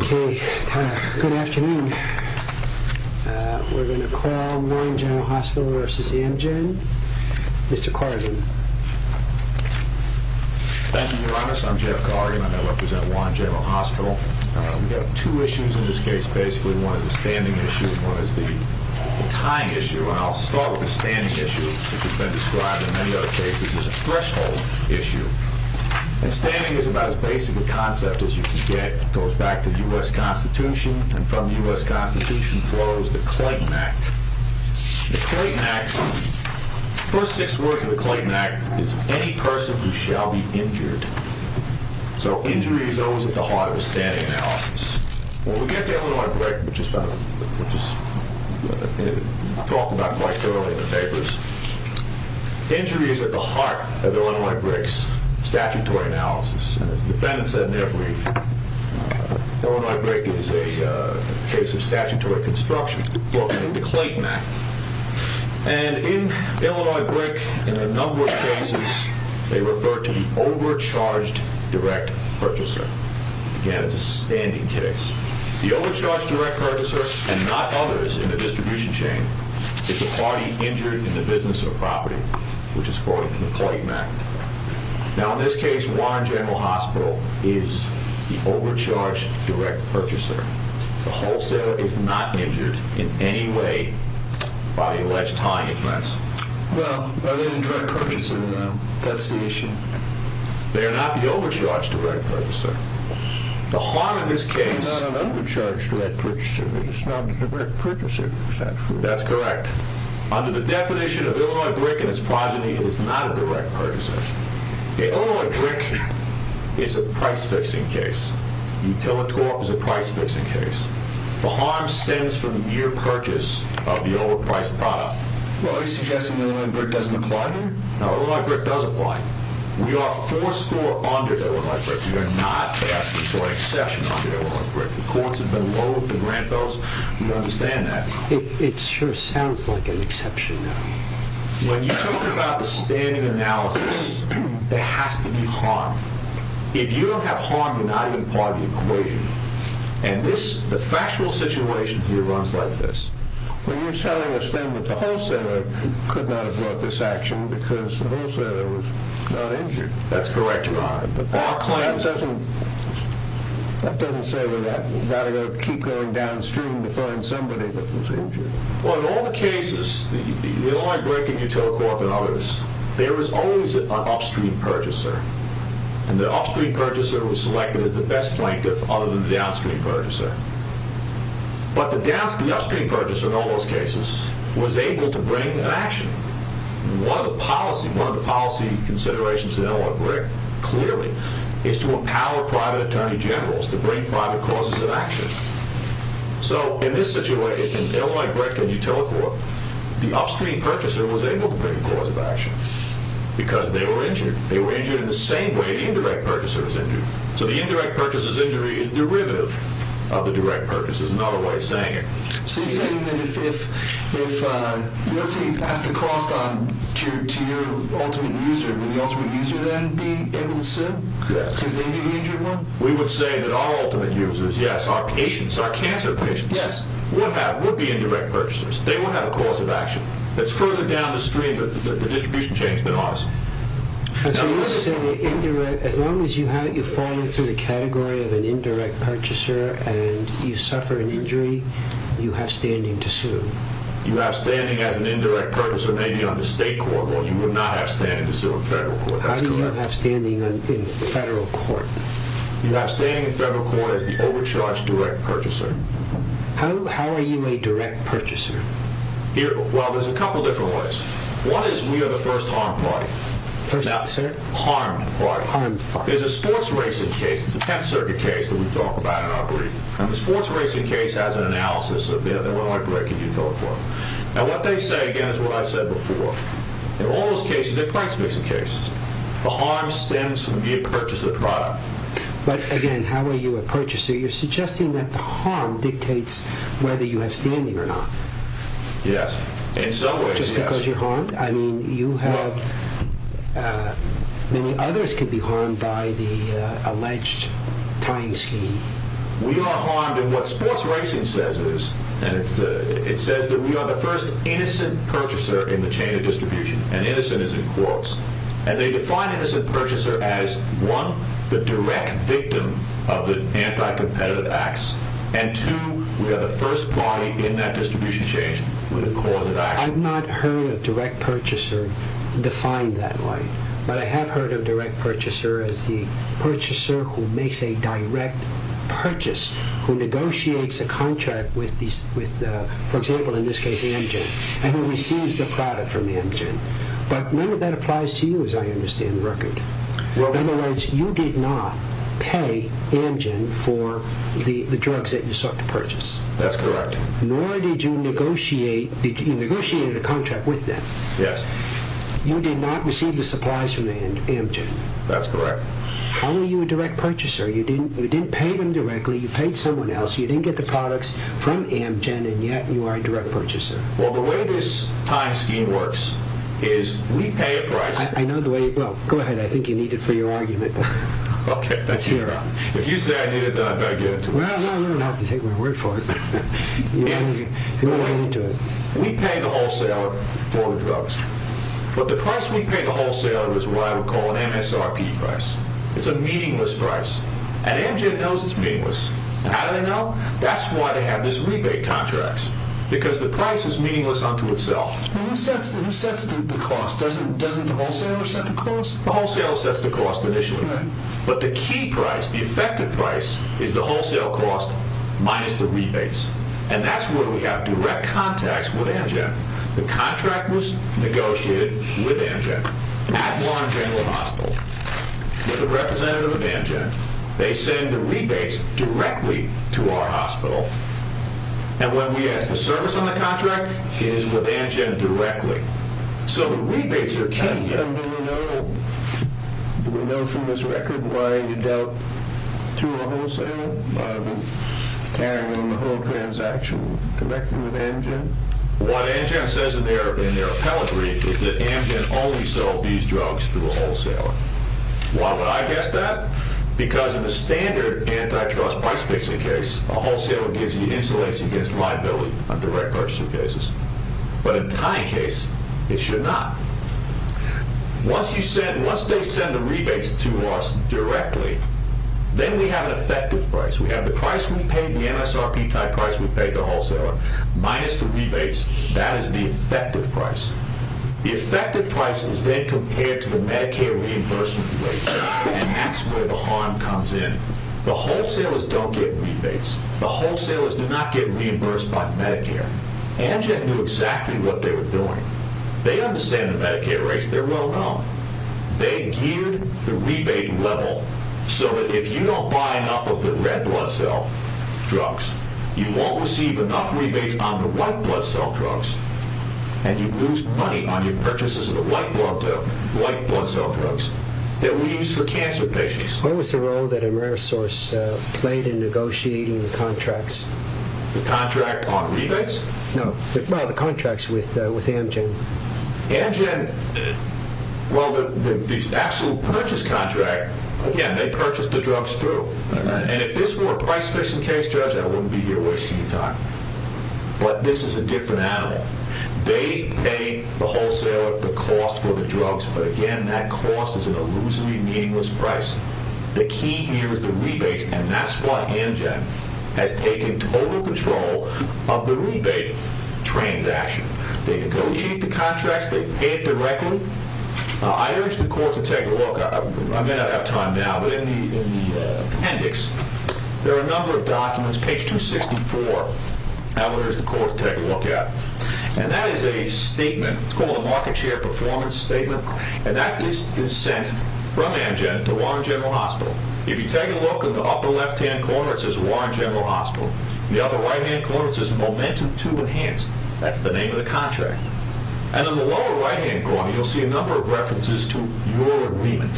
Good afternoon. We're going to call Juan General Hospital vs. Amgen. Mr. Corrigan. Thank you, Your Honor. I'm Jeff Corrigan. I represent Juan General Hospital. We have two issues in this case, basically. One is a standing issue and one is the time issue. I'll start with the standing issue, which has been described in many other cases as a threshold issue. And standing is about as basic a concept as you can get. It goes back to the U.S. Constitution and from the U.S. Constitution flows the Clayton Act. The Clayton Act, the first six words of the Clayton Act is, any person who shall be injured. So injury is always at the heart of a standing analysis. When we get to Illinois Brick, which is talked about quite thoroughly in the papers, injury is at the heart of Illinois Brick's statutory analysis. As the defendant said in their brief, Illinois Brick is a case of statutory construction. In Illinois Brick, in a number of cases, they refer to the overcharged direct purchaser. Again, it's a standing case. The overcharged direct purchaser, and not others in the distribution chain, is the party injured in the business or property, which is quoted in the Clayton Act. Now in this case, Warren General Hospital is the overcharged direct purchaser. The wholesaler is not injured in any way by the alleged tying offense. Well, are they the direct purchaser? That's the issue. They are not the overcharged direct purchaser. The harm in this case... They're not an overcharged direct purchaser, they're just not a direct purchaser, is that true? That's correct. Under the definition of Illinois Brick and its progeny, it is not a direct purchaser. Illinois Brick is a price-fixing case. Utilitorp is a price-fixing case. The harm stems from the mere purchase of the overpriced product. Well, are you suggesting Illinois Brick doesn't apply here? No, Illinois Brick does apply. We are four score under Illinois Brick. We are not past or exception under Illinois Brick. The courts have been low with the grant bills. We understand that. It sure sounds like an exception though. When you talk about the standard analysis, there has to be harm. If you don't have harm, you're not even part of the equation. And the factual situation here runs like this. Well, you're telling us then that the wholesaler could not have brought this action because the wholesaler was not injured. That's correct, Your Honor. That doesn't say we've got to keep going downstream to find somebody that was injured. Well, in all the cases, the Illinois Brick and Utilicorp and others, there was always an upstream purchaser. And the upstream purchaser was selected as the best plaintiff other than the downstream purchaser. But the downstream purchaser in all those cases was able to bring an action. One of the policy considerations in Illinois Brick, clearly, is to empower private attorney generals to bring private causes of action. So in this situation, Illinois Brick and Utilicorp, the upstream purchaser was able to bring a cause of action because they were injured. They were injured in the same way the indirect purchaser was injured. So the indirect purchaser's injury is derivative of the direct purchaser's, another way of saying it. So you're saying that if, let's say, you pass the cost on to your ultimate user, would the ultimate user then be able to sue because they may be injured more? We would say that our ultimate users, yes, our patients, our cancer patients, would be indirect purchasers. They would have a cause of action. It's further down the stream that the distribution chain has been honest. As long as you fall into the category of an indirect purchaser and you suffer an injury, you have standing to sue. You have standing as an indirect purchaser maybe on the state court, but you would not have standing to sue in federal court. How do you have standing in federal court? You have standing in federal court as the overcharged direct purchaser. How are you a direct purchaser? Well, there's a couple different ways. One is we are the first harmed party. Now, harmed party. There's a sports racing case. It's a 10th Circuit case that we've talked about in our briefing. The sports racing case has an analysis that went like breaking new telephone. Now, what they say, again, is what I said before. In all those cases, they're price-fixing cases. The harm stems from being a purchaser product. But, again, how are you a purchaser? You're suggesting that the harm dictates whether you have standing or not. Yes. In some ways, yes. Just because you're harmed? I mean, you have many others could be harmed by the alleged tying scheme. We are harmed in what sports racing says is, and it says that we are the first innocent purchaser in the chain of distribution. And innocent is in quotes. And they define innocent purchaser as, one, the direct victim of the anti-competitive acts, and, two, we are the first party in that distribution chain with a cause of action. I've not heard of direct purchaser defined that way. But I have heard of direct purchaser as the purchaser who makes a direct purchase, who negotiates a contract with, for example, in this case, Amgen, and who receives the product from Amgen. But none of that applies to you, as I understand the record. In other words, you did not pay Amgen for the drugs that you sought to purchase. That's correct. Nor did you negotiate a contract with them. Yes. You did not receive the supplies from Amgen. That's correct. How are you a direct purchaser? You didn't pay them directly. You paid someone else. You didn't get the products from Amgen, and yet you are a direct purchaser. Well, the way this tying scheme works is we pay a price. I know the way. Well, go ahead. I think you need it for your argument. Okay. If you say I need it, then I better get it to you. Well, I don't have to take my word for it. We'll get into it. We pay the wholesaler for the drugs. But the price we pay the wholesaler is what I would call an MSRP price. It's a meaningless price. And Amgen knows it's meaningless. How do they know? That's why they have these rebate contracts, because the price is meaningless unto itself. Who sets the cost? Doesn't the wholesaler set the cost? The wholesaler sets the cost initially. But the key price, the effective price, is the wholesale cost minus the rebates. And that's where we have direct contacts with Amgen. The contract was negotiated with Amgen at Warren General Hospital with a representative of Amgen. They send the rebates directly to our hospital. And when we have a service on the contract, it is with Amgen directly. So the rebates are key. Do we know from this record why you dealt to a wholesaler by carrying on the whole transaction directly with Amgen? What Amgen says in their appellate brief is that Amgen only sold these drugs to a wholesaler. Why would I guess that? Because in a standard antitrust price-fixing case, a wholesaler gives you insolence against liability on direct purchasing cases. But in a tying case, it should not. Once they send the rebates to us directly, then we have an effective price. We have the price we paid, the MSRP-type price we paid the wholesaler, minus the rebates. That is the effective price. The effective price is then compared to the Medicare reimbursement rate. And that is where the harm comes in. The wholesalers do not get rebates. The wholesalers do not get reimbursed by Medicare. Amgen knew exactly what they were doing. They understand the Medicaid rates. They are well known. They geared the rebate level so that if you do not buy enough of the red blood cell drugs, you will not receive enough rebates on the white blood cell drugs, and you lose money on your purchases of the white blood cell drugs that we use for cancer patients. What was the role that Amerisource played in negotiating the contracts? The contract on rebates? No, well, the contracts with Amgen. Amgen, well, the actual purchase contract, again, they purchased the drugs through. And if this were a price-fixing case, Judge, I would not be here wasting your time. But this is a different animal. They pay the wholesaler the cost for the drugs, but again, that cost is an illusory, meaningless price. The key here is the rebates, and that is why Amgen has taken total control of the rebate transaction. They negotiate the contracts. They pay it directly. I urge the court to take a look. I may not have time now, but in the appendix, there are a number of documents, page 264, I would urge the court to take a look at. And that is a statement. It's called a market share performance statement, and that is consent from Amgen to Warren General Hospital. If you take a look in the upper left-hand corner, it says Warren General Hospital. In the upper right-hand corner, it says Momentum II Enhanced. That's the name of the contract. And in the lower right-hand corner, you'll see a number of references to your agreement.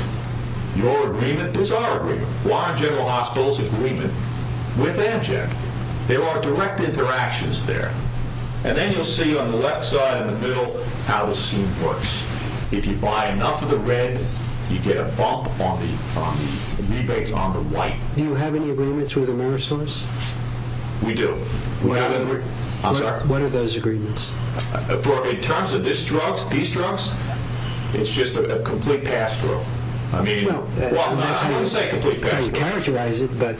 Your agreement is our agreement. Warren General Hospital's agreement with Amgen. There are direct interactions there. And then you'll see on the left side in the middle how the scheme works. If you buy enough of the red, you get a bump on the rebates on the white. Do you have any agreements with Amerisource? We do. What are those agreements? In terms of these drugs, it's just a complete pass-through. I mean, I wouldn't say a complete pass-through. You characterize it, but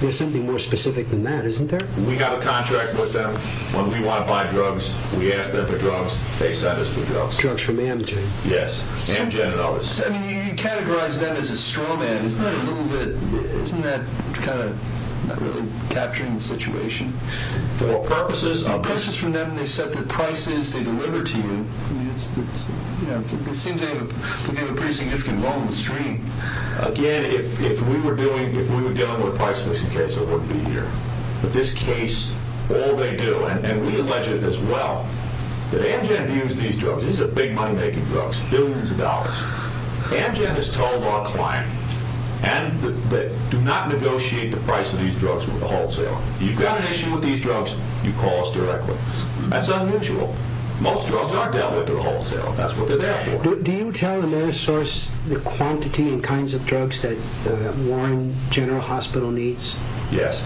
there's something more specific than that, isn't there? We have a contract with them. When we want to buy drugs, we ask them for drugs. They send us the drugs. Drugs from Amgen. Yes, Amgen and others. You categorize them as a straw man. For what purposes? Again, if we were dealing with a price-fixing case, I wouldn't be here. But this case, all they do, and we allege it as well, that Amgen views these drugs. These are big money-making drugs, billions of dollars. Amgen has told our client, do not negotiate the price of these drugs with a wholesaler. If you've got an issue with these drugs, you call us directly. That's unusual. Most drugs aren't dealt with through a wholesaler. That's what they're there for. Do you tell Amerisource the quantity and kinds of drugs that Warren General Hospital needs? Yes.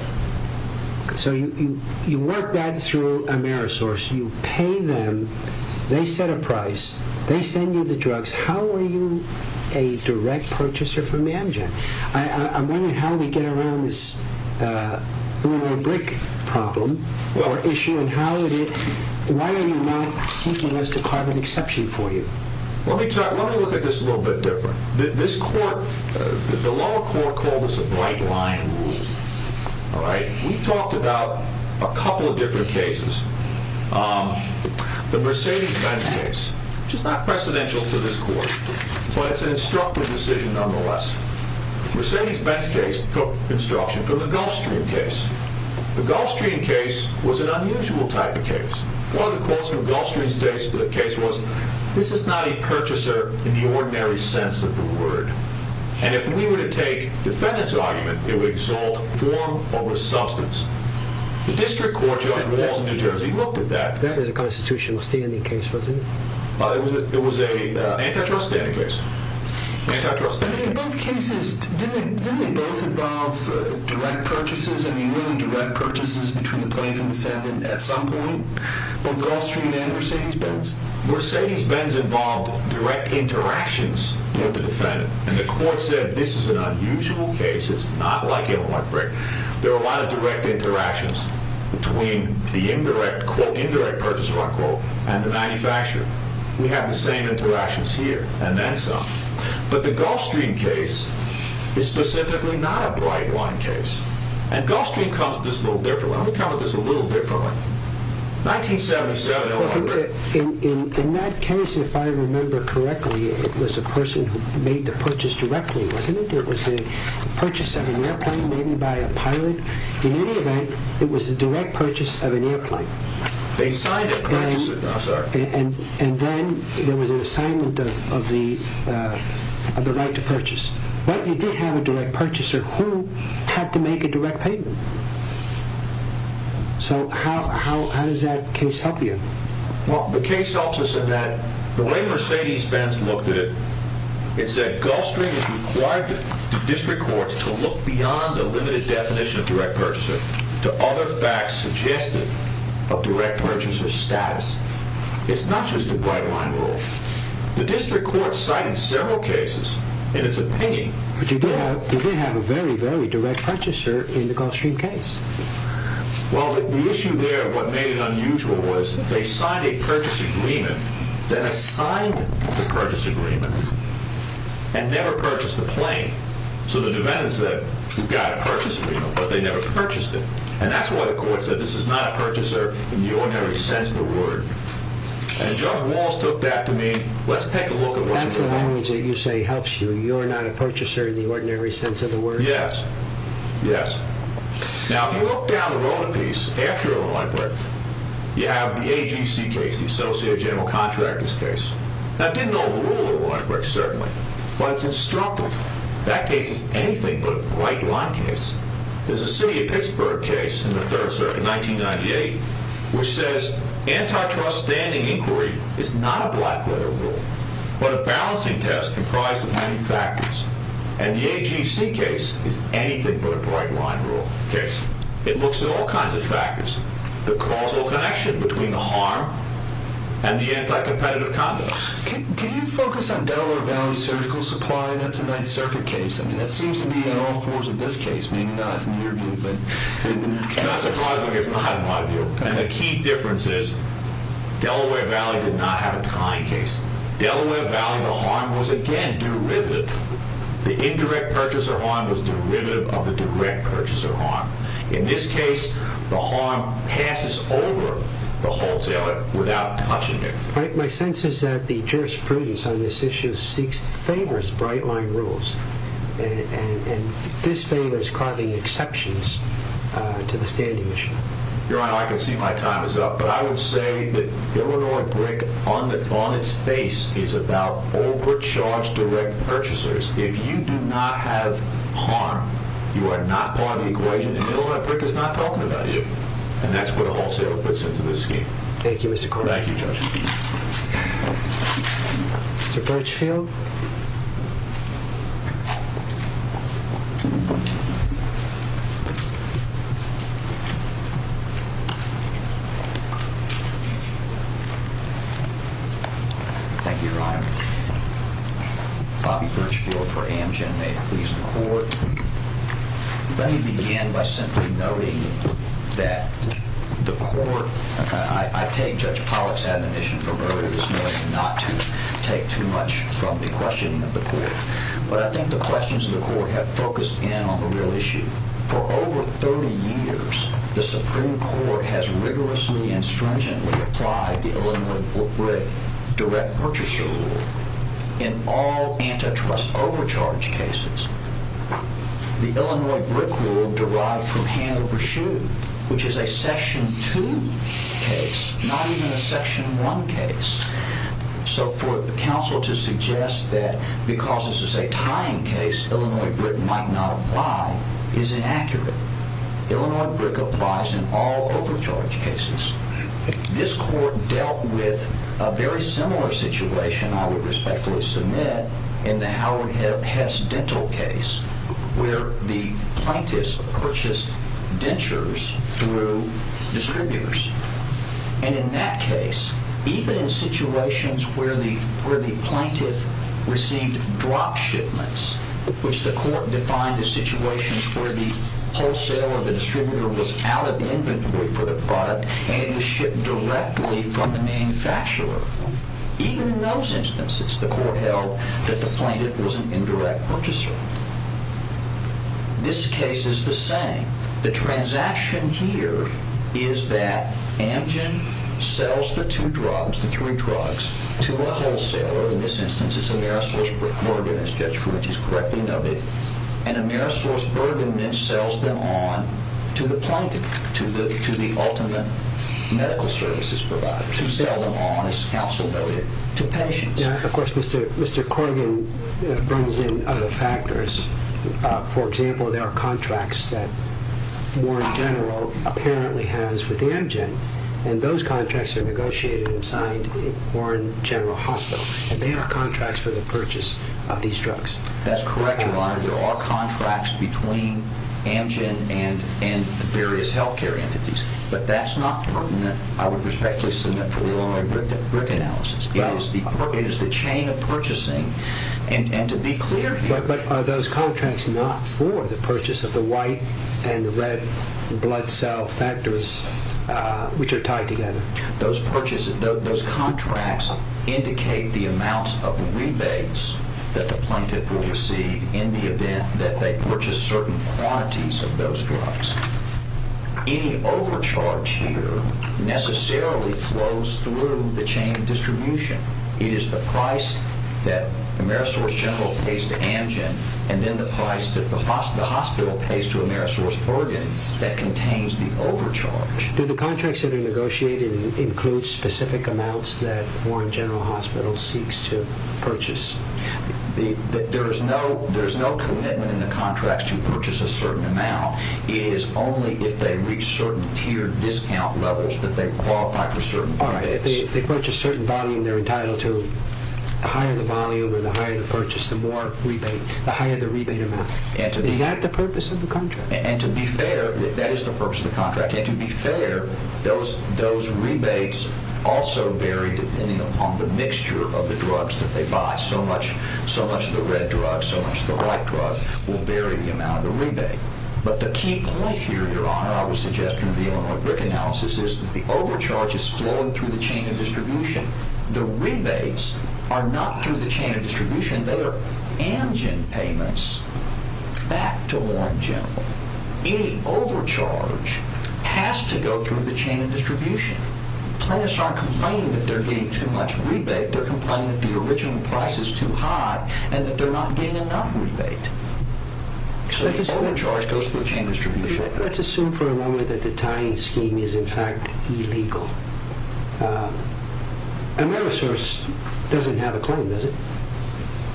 So you work that through Amerisource. You pay them. They set a price. They send you the drugs. How are you a direct purchaser for Amgen? I'm wondering how we get around this lunar break problem or issue, and why are you not seeking us to carve an exception for you? Let me look at this a little bit different. This court, the lower court, called this a bright-line rule. We talked about a couple of different cases. The Mercedes-Benz case, which is not precedential to this court, but it's an instructive decision nonetheless. The Mercedes-Benz case took instruction from the Gulfstream case. The Gulfstream case was an unusual type of case. One of the quotes from Gulfstream's case was, this is not a purchaser in the ordinary sense of the word. And if we were to take defendant's argument, it would exalt form over substance. The district court judge in New Jersey looked at that. That was a constitutional standing case, wasn't it? It was an antitrust standing case. Antitrust standing case. In both cases, didn't they both involve direct purchases? I mean, really direct purchases between the plaintiff and defendant at some point? Both Gulfstream and Mercedes-Benz. Mercedes-Benz involved direct interactions with the defendant. And the court said, this is an unusual case. It's not like a lunar break. There were a lot of direct interactions between the indirect quote, and the manufacturer. We have the same interactions here. And then some. But the Gulfstream case is specifically not a bright-line case. And Gulfstream comes at this a little differently. Let me come at this a little differently. 1977, no longer. In that case, if I remember correctly, it was a person who made the purchase directly, wasn't it? It was a purchase of an airplane made by a pilot. In any event, it was a direct purchase of an airplane. And then there was an assignment of the right to purchase. But you did have a direct purchaser who had to make a direct payment. So how does that case help you? Well, the case helps us in that the way Mercedes-Benz looked at it, it said Gulfstream is required to district courts to look beyond the limited definition of direct purchaser to other facts suggested of direct purchaser status. It's not just a bright-line rule. The district court cited several cases in its opinion. But you did have a very, very direct purchaser in the Gulfstream case. Well, the issue there, what made it unusual, was they signed a purchase agreement, then assigned the purchase agreement, and never purchased the plane. So the Neventans said, we've got a purchase agreement, but they never purchased it. And that's why the court said this is not a purchaser in the ordinary sense of the word. And Judge Walz took that to mean, let's take a look at what you're doing. That's the language that you say helps you. You're not a purchaser in the ordinary sense of the word? Yes. Yes. Now, if you look down the road a piece, after a line break, you have the AGC case, the Associate General Contractor's case. Now, it didn't overrule a line break, certainly. But it's instructive. That case is anything but a bright-line case. There's a city of Pittsburgh case in the Third Circuit, 1998, which says antitrust standing inquiry is not a black-letter rule, but a balancing test comprised of many factors. And the AGC case is anything but a bright-line case. It looks at all kinds of factors, the causal connection between the harm and the anti-competitive conducts. Can you focus on Delaware Valley Surgical Supply? That's a Ninth Circuit case. I mean, that seems to be on all fours in this case. Maybe not in your view, but... Not surprisingly, it's not in my view. And the key difference is Delaware Valley did not have a tying case. Delaware Valley, the harm was, again, derivative. The indirect purchaser harm was derivative of the direct purchaser harm. In this case, the harm passes over the wholesale without touching it. My sense is that the jurisprudence on this issue favors bright-line rules, and this favors causing exceptions to the standing issue. Your Honor, I can see my time is up, but I will say that Illinois BRIC on its face is about overcharged direct purchasers. If you do not have harm, you are not part of the equation, and Illinois BRIC is not talking about you. And that's what a wholesaler puts into this scheme. Thank you, Mr. Court. Thank you, Judge. Mr. Birchfield? Thank you, Your Honor. Bobby Birchfield for Amgen. May it please the Court. Let me begin by simply noting that the Court— I take Judge Pollack's admonition from earlier this morning not to take too much from the questioning of the Court. But I think the questions of the Court have focused in on the real issue. For over 30 years, the Supreme Court has rigorously and stringently applied the Illinois BRIC direct purchaser rule in all antitrust overcharge cases. The Illinois BRIC rule derived from Hand Over Shoe, which is a Section 2 case, not even a Section 1 case. So for the counsel to suggest that because this is a tying case, Illinois BRIC might not apply is inaccurate. Illinois BRIC applies in all overcharge cases. This Court dealt with a very similar situation, I would respectfully submit, in the Howard Hess dental case, where the plaintiff purchased dentures through distributors. And in that case, even in situations where the plaintiff received drop shipments, which the Court defined as situations where the wholesale of the distributor was out of inventory for the product and it was shipped directly from the manufacturer. Even in those instances, the Court held that the plaintiff was an indirect purchaser. This case is the same. The transaction here is that Amgen sells the two drugs, the three drugs, to a wholesaler. In this instance, it's AmerisourceBergen, as Judge Fuentes correctly noted. And AmerisourceBergen then sells them on to the plaintiff, to the ultimate medical services provider, to sell them on, as counsel noted, to patients. Of course, Mr. Corrigan brings in other factors. For example, there are contracts that Warren General apparently has with Amgen. And those contracts are negotiated and signed at Warren General Hospital. And they are contracts for the purchase of these drugs. That's correct, Your Honor. There are contracts between Amgen and various health care entities. But that's not pertinent, I would respectfully submit, for your own analysis. It is the chain of purchasing. And to be clear here... But are those contracts not for the purchase of the white and red blood cell factors, which are tied together? Those contracts indicate the amounts of rebates that the plaintiff will receive in the event that they purchase certain quantities of those drugs. Any overcharge here necessarily flows through the chain of distribution. It is the price that AmerisourceGeneral pays to Amgen and then the price that the hospital pays to AmerisourceBergen that contains the overcharge. Do the contracts that are negotiated include specific amounts that Warren General Hospital seeks to purchase? There is no commitment in the contracts to purchase a certain amount. It is only if they reach certain tiered discount levels that they qualify for certain rebates. All right. If they purchase a certain volume they're entitled to, the higher the volume or the higher the purchase, the more rebate, the higher the rebate amount. Is that the purpose of the contract? And to be fair, that is the purpose of the contract. And to be fair, those rebates also vary depending upon the mixture of the drugs that they buy. So much of the red drugs, so much of the white drugs, will vary the amount of the rebate. But the key point here, Your Honor, I would suggest in the Illinois BRIC analysis, is that the overcharge is flowing through the chain of distribution. The rebates are not through the chain of distribution. They are Amgen payments back to Warren General. Any overcharge has to go through the chain of distribution. Plaintiffs aren't complaining that they're getting too much rebate. They're complaining that the original price is too high and that they're not getting enough rebate. So the overcharge goes through the chain of distribution. Let's assume for a moment that the tying scheme is in fact illegal. Amerisource doesn't have a claim, does it?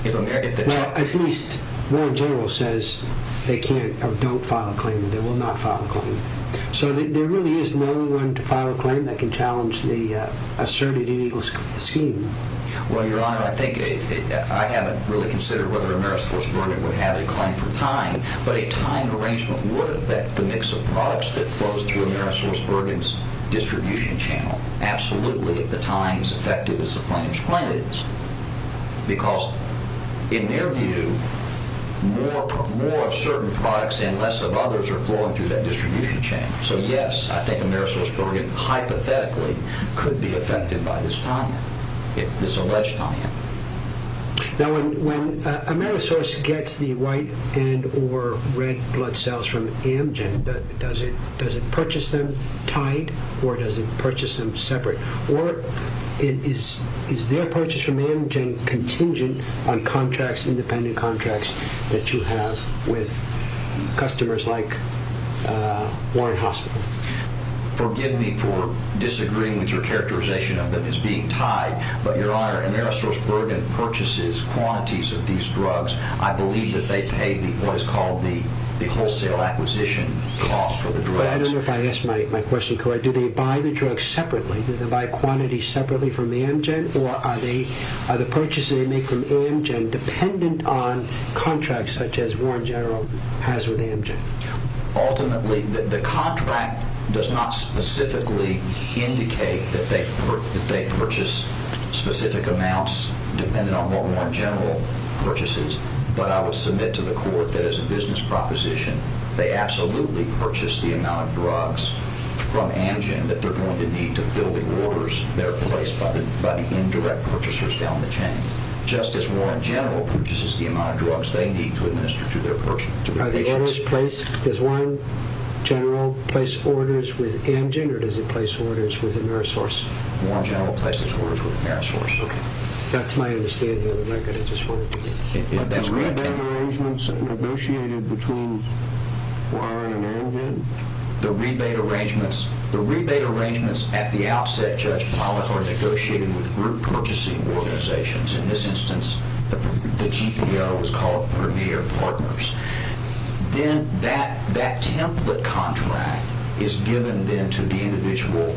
Well, at least Warren General says they can't or don't file a claim. They will not file a claim. So there really is no one to file a claim that can challenge the asserted illegal scheme. Well, Your Honor, I think I haven't really considered whether Amerisource Bergen would have a claim for tying, but a tying arrangement would affect the mix of products that flows through Amerisource Bergen's distribution channel. Absolutely, if the tying is as effective as the plaintiff's claim it is. Because in their view, more of certain products and less of others are flowing through that distribution channel. So yes, I think Amerisource Bergen hypothetically could be affected by this tying, this alleged tying. Now, when Amerisource gets the white and or red blood cells from Amgen, does it purchase them tied or does it purchase them separate? Or is their purchase from Amgen contingent on contracts, independent contracts that you have with customers like Warren Hospital? Forgive me for disagreeing with your characterization of them as being tied, but, Your Honor, Amerisource Bergen purchases quantities of these drugs. I believe that they pay what is called the wholesale acquisition cost for the drugs. I don't know if I asked my question correctly. Do they buy the drugs separately? Do they buy quantities separately from Amgen? Or are the purchases they make from Amgen dependent on contracts such as Warren General has with Amgen? Ultimately, the contract does not specifically indicate that they purchase specific amounts dependent on what Warren General purchases. But I would submit to the court that as a business proposition, they absolutely purchase the amount of drugs from Amgen that they're going to need to fill the orders that are placed by the indirect purchasers down the chain, just as Warren General purchases the amount of drugs they need to administer to their patients. Does Warren General place orders with Amgen? Or does he place orders with Amerisource? Warren General places orders with Amerisource. Okay. That's my understanding of the record. That's correct. Are the rebate arrangements negotiated between Warren and Amgen? The rebate arrangements at the outset, Judge Pollack, are negotiated with group purchasing organizations. In this instance, the GPO is called Vermeer Partners. Then that template contract is given then to the individual,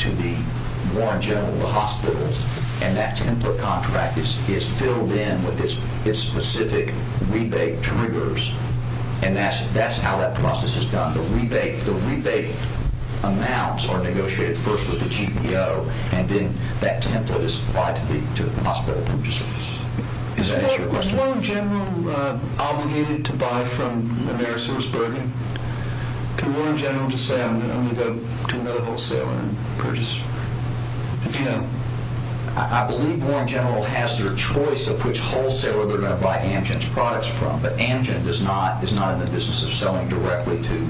to Warren General and the hospitals, and that template contract is filled in with its specific rebate triggers, and that's how that process is done. The rebate amounts are negotiated first with the GPO, and then that template is applied to the hospital purchasers. Is that your question? Is Warren General obligated to buy from Amerisource, Bergen? Can Warren General just say, I'm going to go to another wholesaler and purchase? If he can. I believe Warren General has their choice of which wholesaler they're going to buy Amgen's products from, but Amgen is not in the business of selling directly to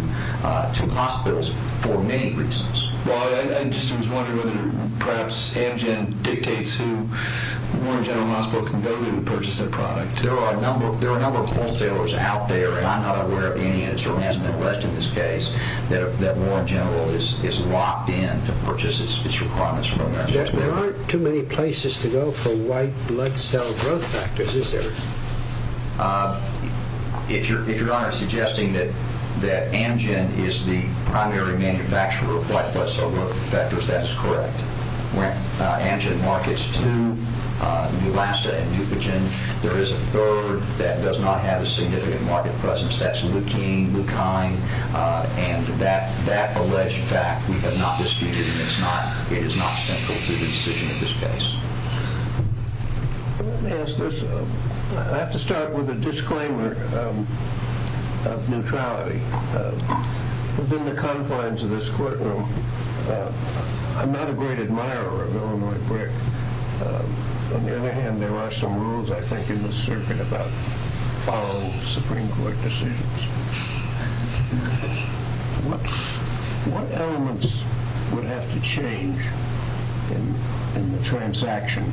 hospitals for many reasons. I just was wondering whether perhaps Amgen dictates who Warren General Hospital can go to to purchase their product. There are a number of wholesalers out there, and I'm not aware of any, and it certainly hasn't been addressed in this case, that Warren General is locked in to purchase its requirements from Amerisource. There aren't too many places to go for white blood cell growth factors, is there? If Your Honor is suggesting that Amgen is the primary manufacturer of white blood cell growth factors, that is correct. Amgen markets to Neulasta and Dupagen. There is a third that does not have a significant market presence. That's Leukine, and that alleged fact we have not disputed, and it is not central to the decision of this case. Let me ask this. I have to start with a disclaimer of neutrality. Within the confines of this courtroom, I'm not a great admirer of Illinois Brick. On the other hand, there are some rules, I think, in this circuit about following Supreme Court decisions. What elements would have to change in the transaction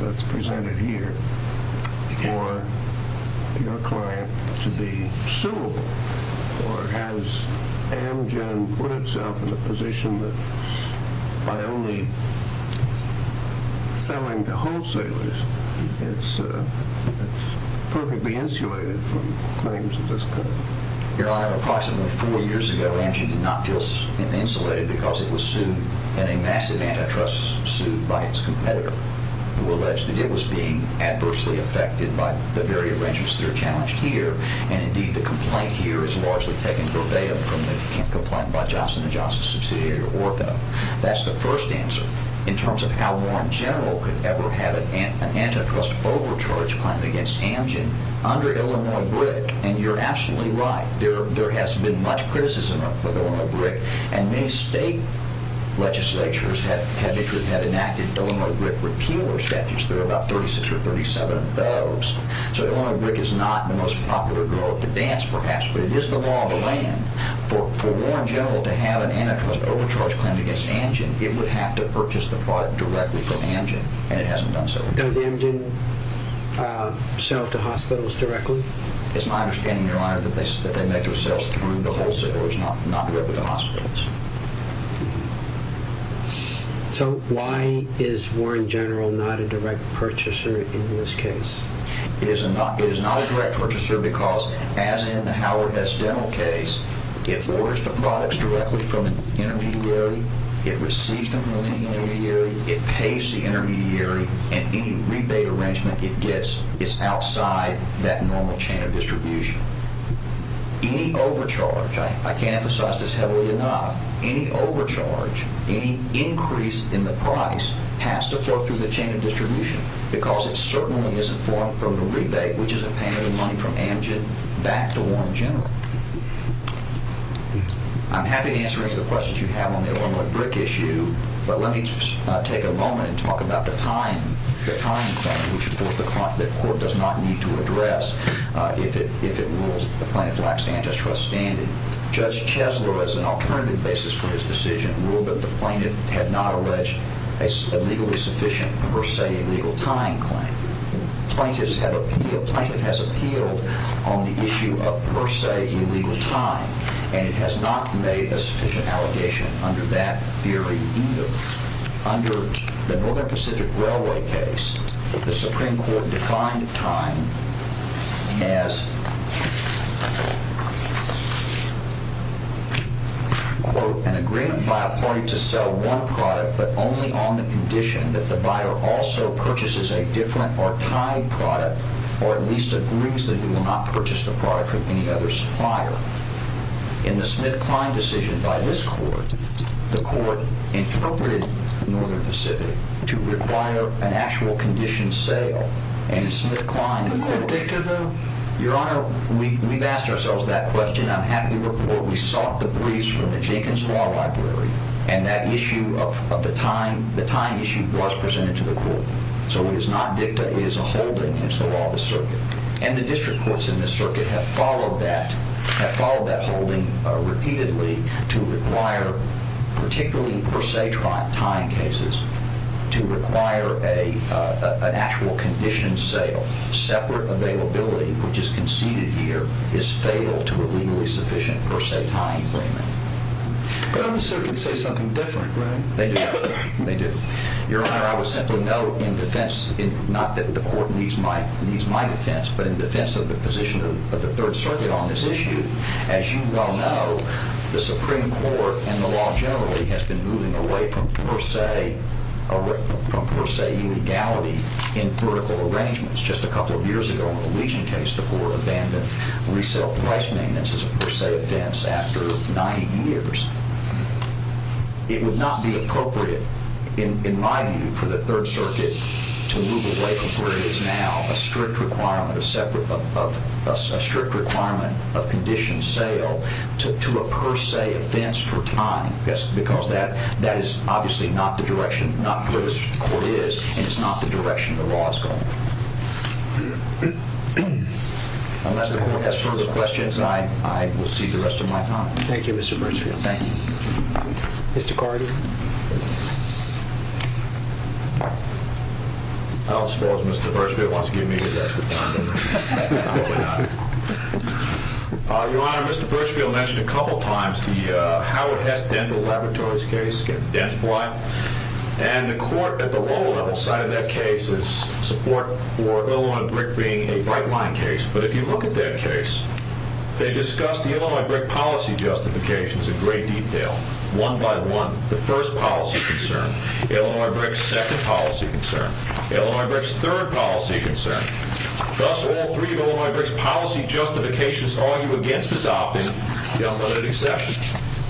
that's presented here for your client to be suable? Or has Amgen put itself in a position that by only selling to wholesalers, it's perfectly insulated from claims of this kind? Your Honor, approximately four years ago, Amgen did not feel insulated because it was sued in a massive antitrust suit by its competitor, who alleged that it was being adversely affected by the very arrangements that are challenged here, and indeed the complaint here is largely taken verbatim from the complaint by Johnson & Johnson's subsidiary, Ortho. That's the first answer. In terms of how Warren General could ever have an antitrust overcharge claim against Amgen under Illinois Brick, and you're absolutely right. There has been much criticism of Illinois Brick, and many state legislatures have enacted Illinois Brick repealer statutes. There are about 36 or 37 of those. So Illinois Brick is not the most popular girl at the dance, perhaps, but it is the law of the land. For Warren General to have an antitrust overcharge claim against Amgen, it would have to purchase the product directly from Amgen, and it hasn't done so. Does Amgen sell to hospitals directly? It's my understanding, Your Honor, that they make their sales through the wholesalers, not directly to hospitals. So why is Warren General not a direct purchaser in this case? It is not a direct purchaser because, as in the Howard S. Dental case, it orders the products directly from an intermediary, it receives them from any intermediary, it pays the intermediary, and any rebate arrangement it gets is outside that normal chain of distribution. Any overcharge, I can't emphasize this heavily enough, any overcharge, any increase in the price has to flow through the chain of distribution because it certainly isn't flowing from the rebate, which is a payment of money from Amgen, back to Warren General. I'm happy to answer any of the questions you have on the Illinois Brick issue, but let me take a moment and talk about the time claim, which, of course, the court does not need to address if it rules that the plaintiff lacks antitrust standing. Judge Chesler, as an alternative basis for his decision, ruled that the plaintiff had not alleged a legally sufficient per se illegal time claim. Plaintiff has appealed on the issue of per se illegal time, and it has not made a sufficient allegation under that theory either. Under the Northern Pacific Railway case, the Supreme Court defined time as, quote, an agreement by a party to sell one product but only on the condition that the buyer also purchases a different or tied product or at least agrees that he will not purchase the product from any other supplier. In the Smith-Klein decision by this court, the court interpreted the Northern Pacific to require an actual condition sale, and Smith-Klein— Is that a dicta, though? Your Honor, we've asked ourselves that question. I'm happy to report we sought the briefs from the Jenkins Law Library, and that issue of the time issue was presented to the court. So it is not dicta. It is a holding. It's the law of the circuit. And the district courts in this circuit have followed that, holding repeatedly to require, particularly per se time cases, to require an actual condition sale. Separate availability, which is conceded here, is fatal to a legally sufficient per se time agreement. But other circuits say something different, right? They do. They do. Your Honor, I would simply note in defense— not that the court needs my defense, but in defense of the position of the Third Circuit on this issue, as you well know, the Supreme Court and the law generally have been moving away from per se illegality in political arrangements. Just a couple of years ago, in the Legion case, the court abandoned resale price maintenance as a per se offense after 90 years. It would not be appropriate, in my view, for the Third Circuit to move away from where it is now, a strict requirement of condition sale to a per se offense for time. Because that is obviously not the direction, not where the court is, and it's not the direction the law is going. Unless the court has further questions, I will cede the rest of my time. Thank you, Mr. Birchfield. Thank you. Mr. Carty? I don't suppose Mr. Birchfield wants to give me the rest of his time. I hope not. Your Honor, Mr. Birchfield mentioned a couple of times the Howard Hess Dental Laboratories case against dense blood, and the court at the lower level sided that case as support for Illinois brick being a bright-line case. But if you look at that case, they discussed the Illinois brick policy justifications in great detail, one by one, the first policy concern, Illinois brick's second policy concern, Illinois brick's third policy concern. Thus, all three of Illinois brick's policy justifications argue against adopting the unlimited exception.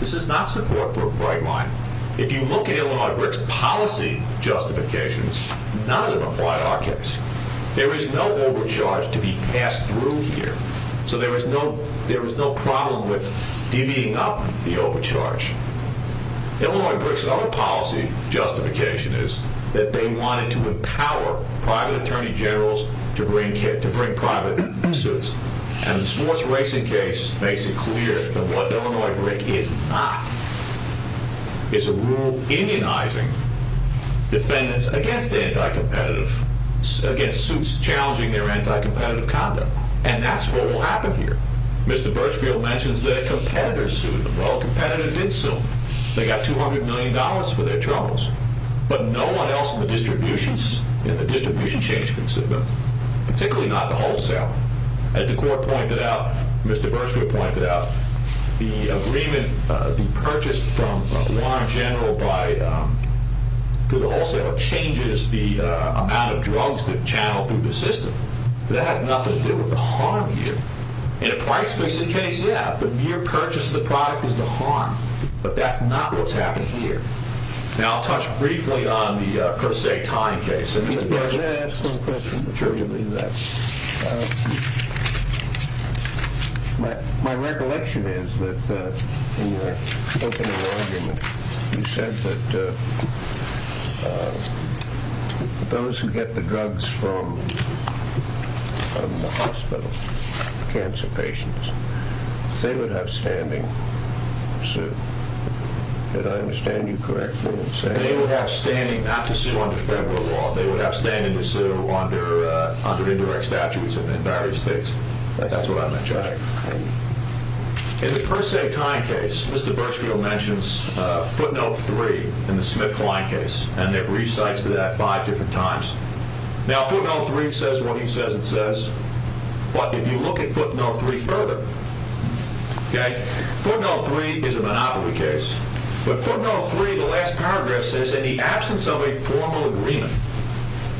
This is not support for a bright line. If you look at Illinois brick's policy justifications, none of them apply to our case. There is no overcharge to be passed through here, so there is no problem with divvying up the overcharge. Illinois brick's other policy justification is that they wanted to empower private attorney generals to bring private suits, and the sports racing case makes it clear that what Illinois brick is not is a rule indianizing defendants against anti-competitive, against suits challenging their anti-competitive conduct, and that's what will happen here. Mr. Birchfield mentions that a competitor sued them. Well, a competitor did sue them. They got $200 million for their troubles, but no one else in the distribution chain should consider them, particularly not the wholesaler. As the court pointed out, Mr. Birchfield pointed out, the agreement, the purchase from a lawrence general to the wholesaler changes the amount of drugs that channel through the system. That has nothing to do with the harm here. In a price-fixing case, yeah, the mere purchase of the product is the harm, but that's not what's happening here. Now, I'll touch briefly on the per se time case. Mr. Birchfield. May I ask one question? Sure. My recollection is that in your opening argument, you said that those who get the drugs from the hospital, cancer patients, they would have standing to sue. Did I understand you correctly in saying that? They would have standing not to sue under federal law. They would have standing to sue under indirect statutes in various states. That's what I meant, Judge. In the per se time case, Mr. Birchfield mentions footnote three in the Smith-Klein case, and it recites that five different times. Now, footnote three says what he says it says, but if you look at footnote three further, footnote three is a monopoly case, but footnote three, the last paragraph, says in the absence of a formal agreement,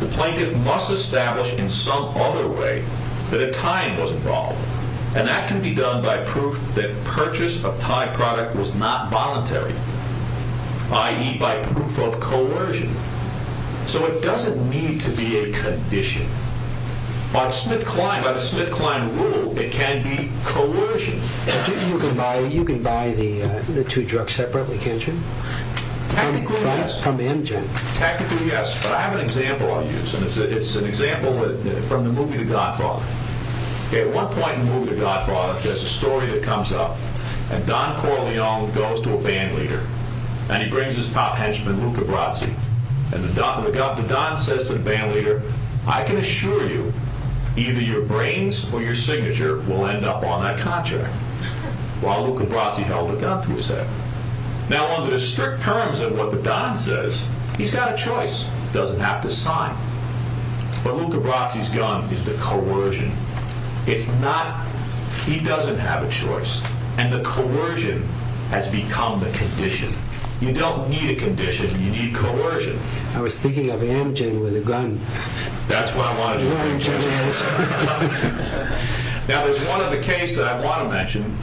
the plaintiff must establish in some other way that a time was involved, and that can be done by proof that purchase of Thai product was not voluntary, i.e., by proof of coercion. So it doesn't need to be a condition. By the Smith-Klein rule, it can be coercion. You can buy the two drugs separately, can't you? Technically, yes. From the engine. Technically, yes, but I have an example I'll use, and it's an example from the movie The Godfather. At one point in the movie The Godfather, there's a story that comes up, and Don Corleone goes to a bandleader, and he brings his top henchman, Luca Brasi, and the Don says to the bandleader, I can assure you either your brains or your signature will end up on that contract, while Luca Brasi held a gun to his head. Now, under the strict terms of what the Don says, he's got a choice. He doesn't have to sign. But Luca Brasi's gun is the coercion. He doesn't have a choice, and the coercion has become the condition. You don't need a condition. You need coercion. I was thinking of Amgen with a gun. That's what I wanted to mention. Now, there's one other case that I want to mention.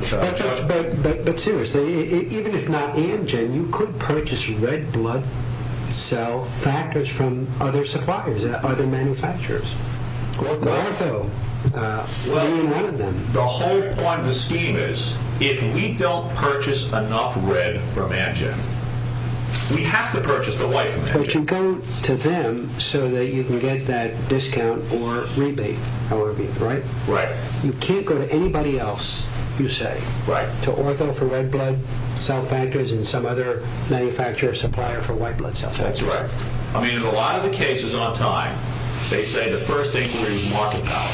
But seriously, even if not Amgen, you could purchase red blood cell factors from other suppliers, other manufacturers. Ortho, be one of them. The whole point of the scheme is if we don't purchase enough red from Amgen, we have to purchase the white from Amgen. But you go to them so that you can get that discount or rebate, however you like, right? Right. You can't go to anybody else, you say, to Ortho for red blood cell factors and some other manufacturer or supplier for white blood cell factors. That's right. I mean, in a lot of the cases on time, they say the first thing to do is market power.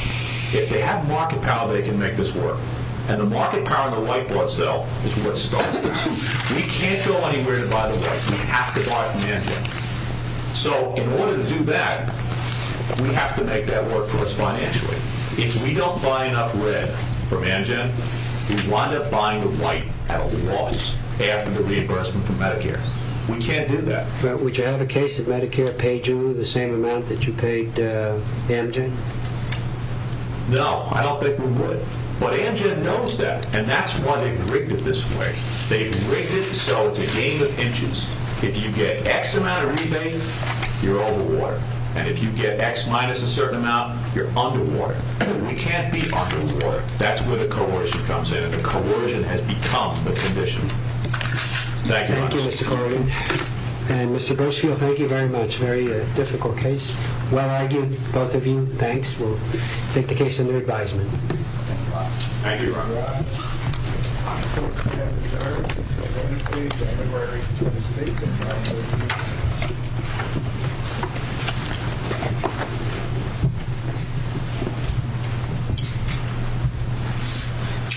If they have market power, they can make this work. And the market power in the white blood cell is what starts it. We can't go anywhere to buy the white. We have to buy it from Amgen. So in order to do that, we have to make that work for us financially. If we don't buy enough red from Amgen, we wind up buying the white at a loss after the reimbursement from Medicare. We can't do that. Would you have a case if Medicare paid you the same amount that you paid Amgen? No, I don't think we would. But Amgen knows that, and that's why they've rigged it this way. They've rigged it so it's a game of inches. If you get X amount of rebate, you're over water. And if you get X minus a certain amount, you're under water. We can't be under water. That's where the coercion comes in, and the coercion has become the condition. Thank you very much. Thank you, Mr. Corrigan. And Mr. Birchfield, thank you very much. Very difficult case. Well argued, both of you. Thanks. We'll take the case under advisement. Thank you. Thank you.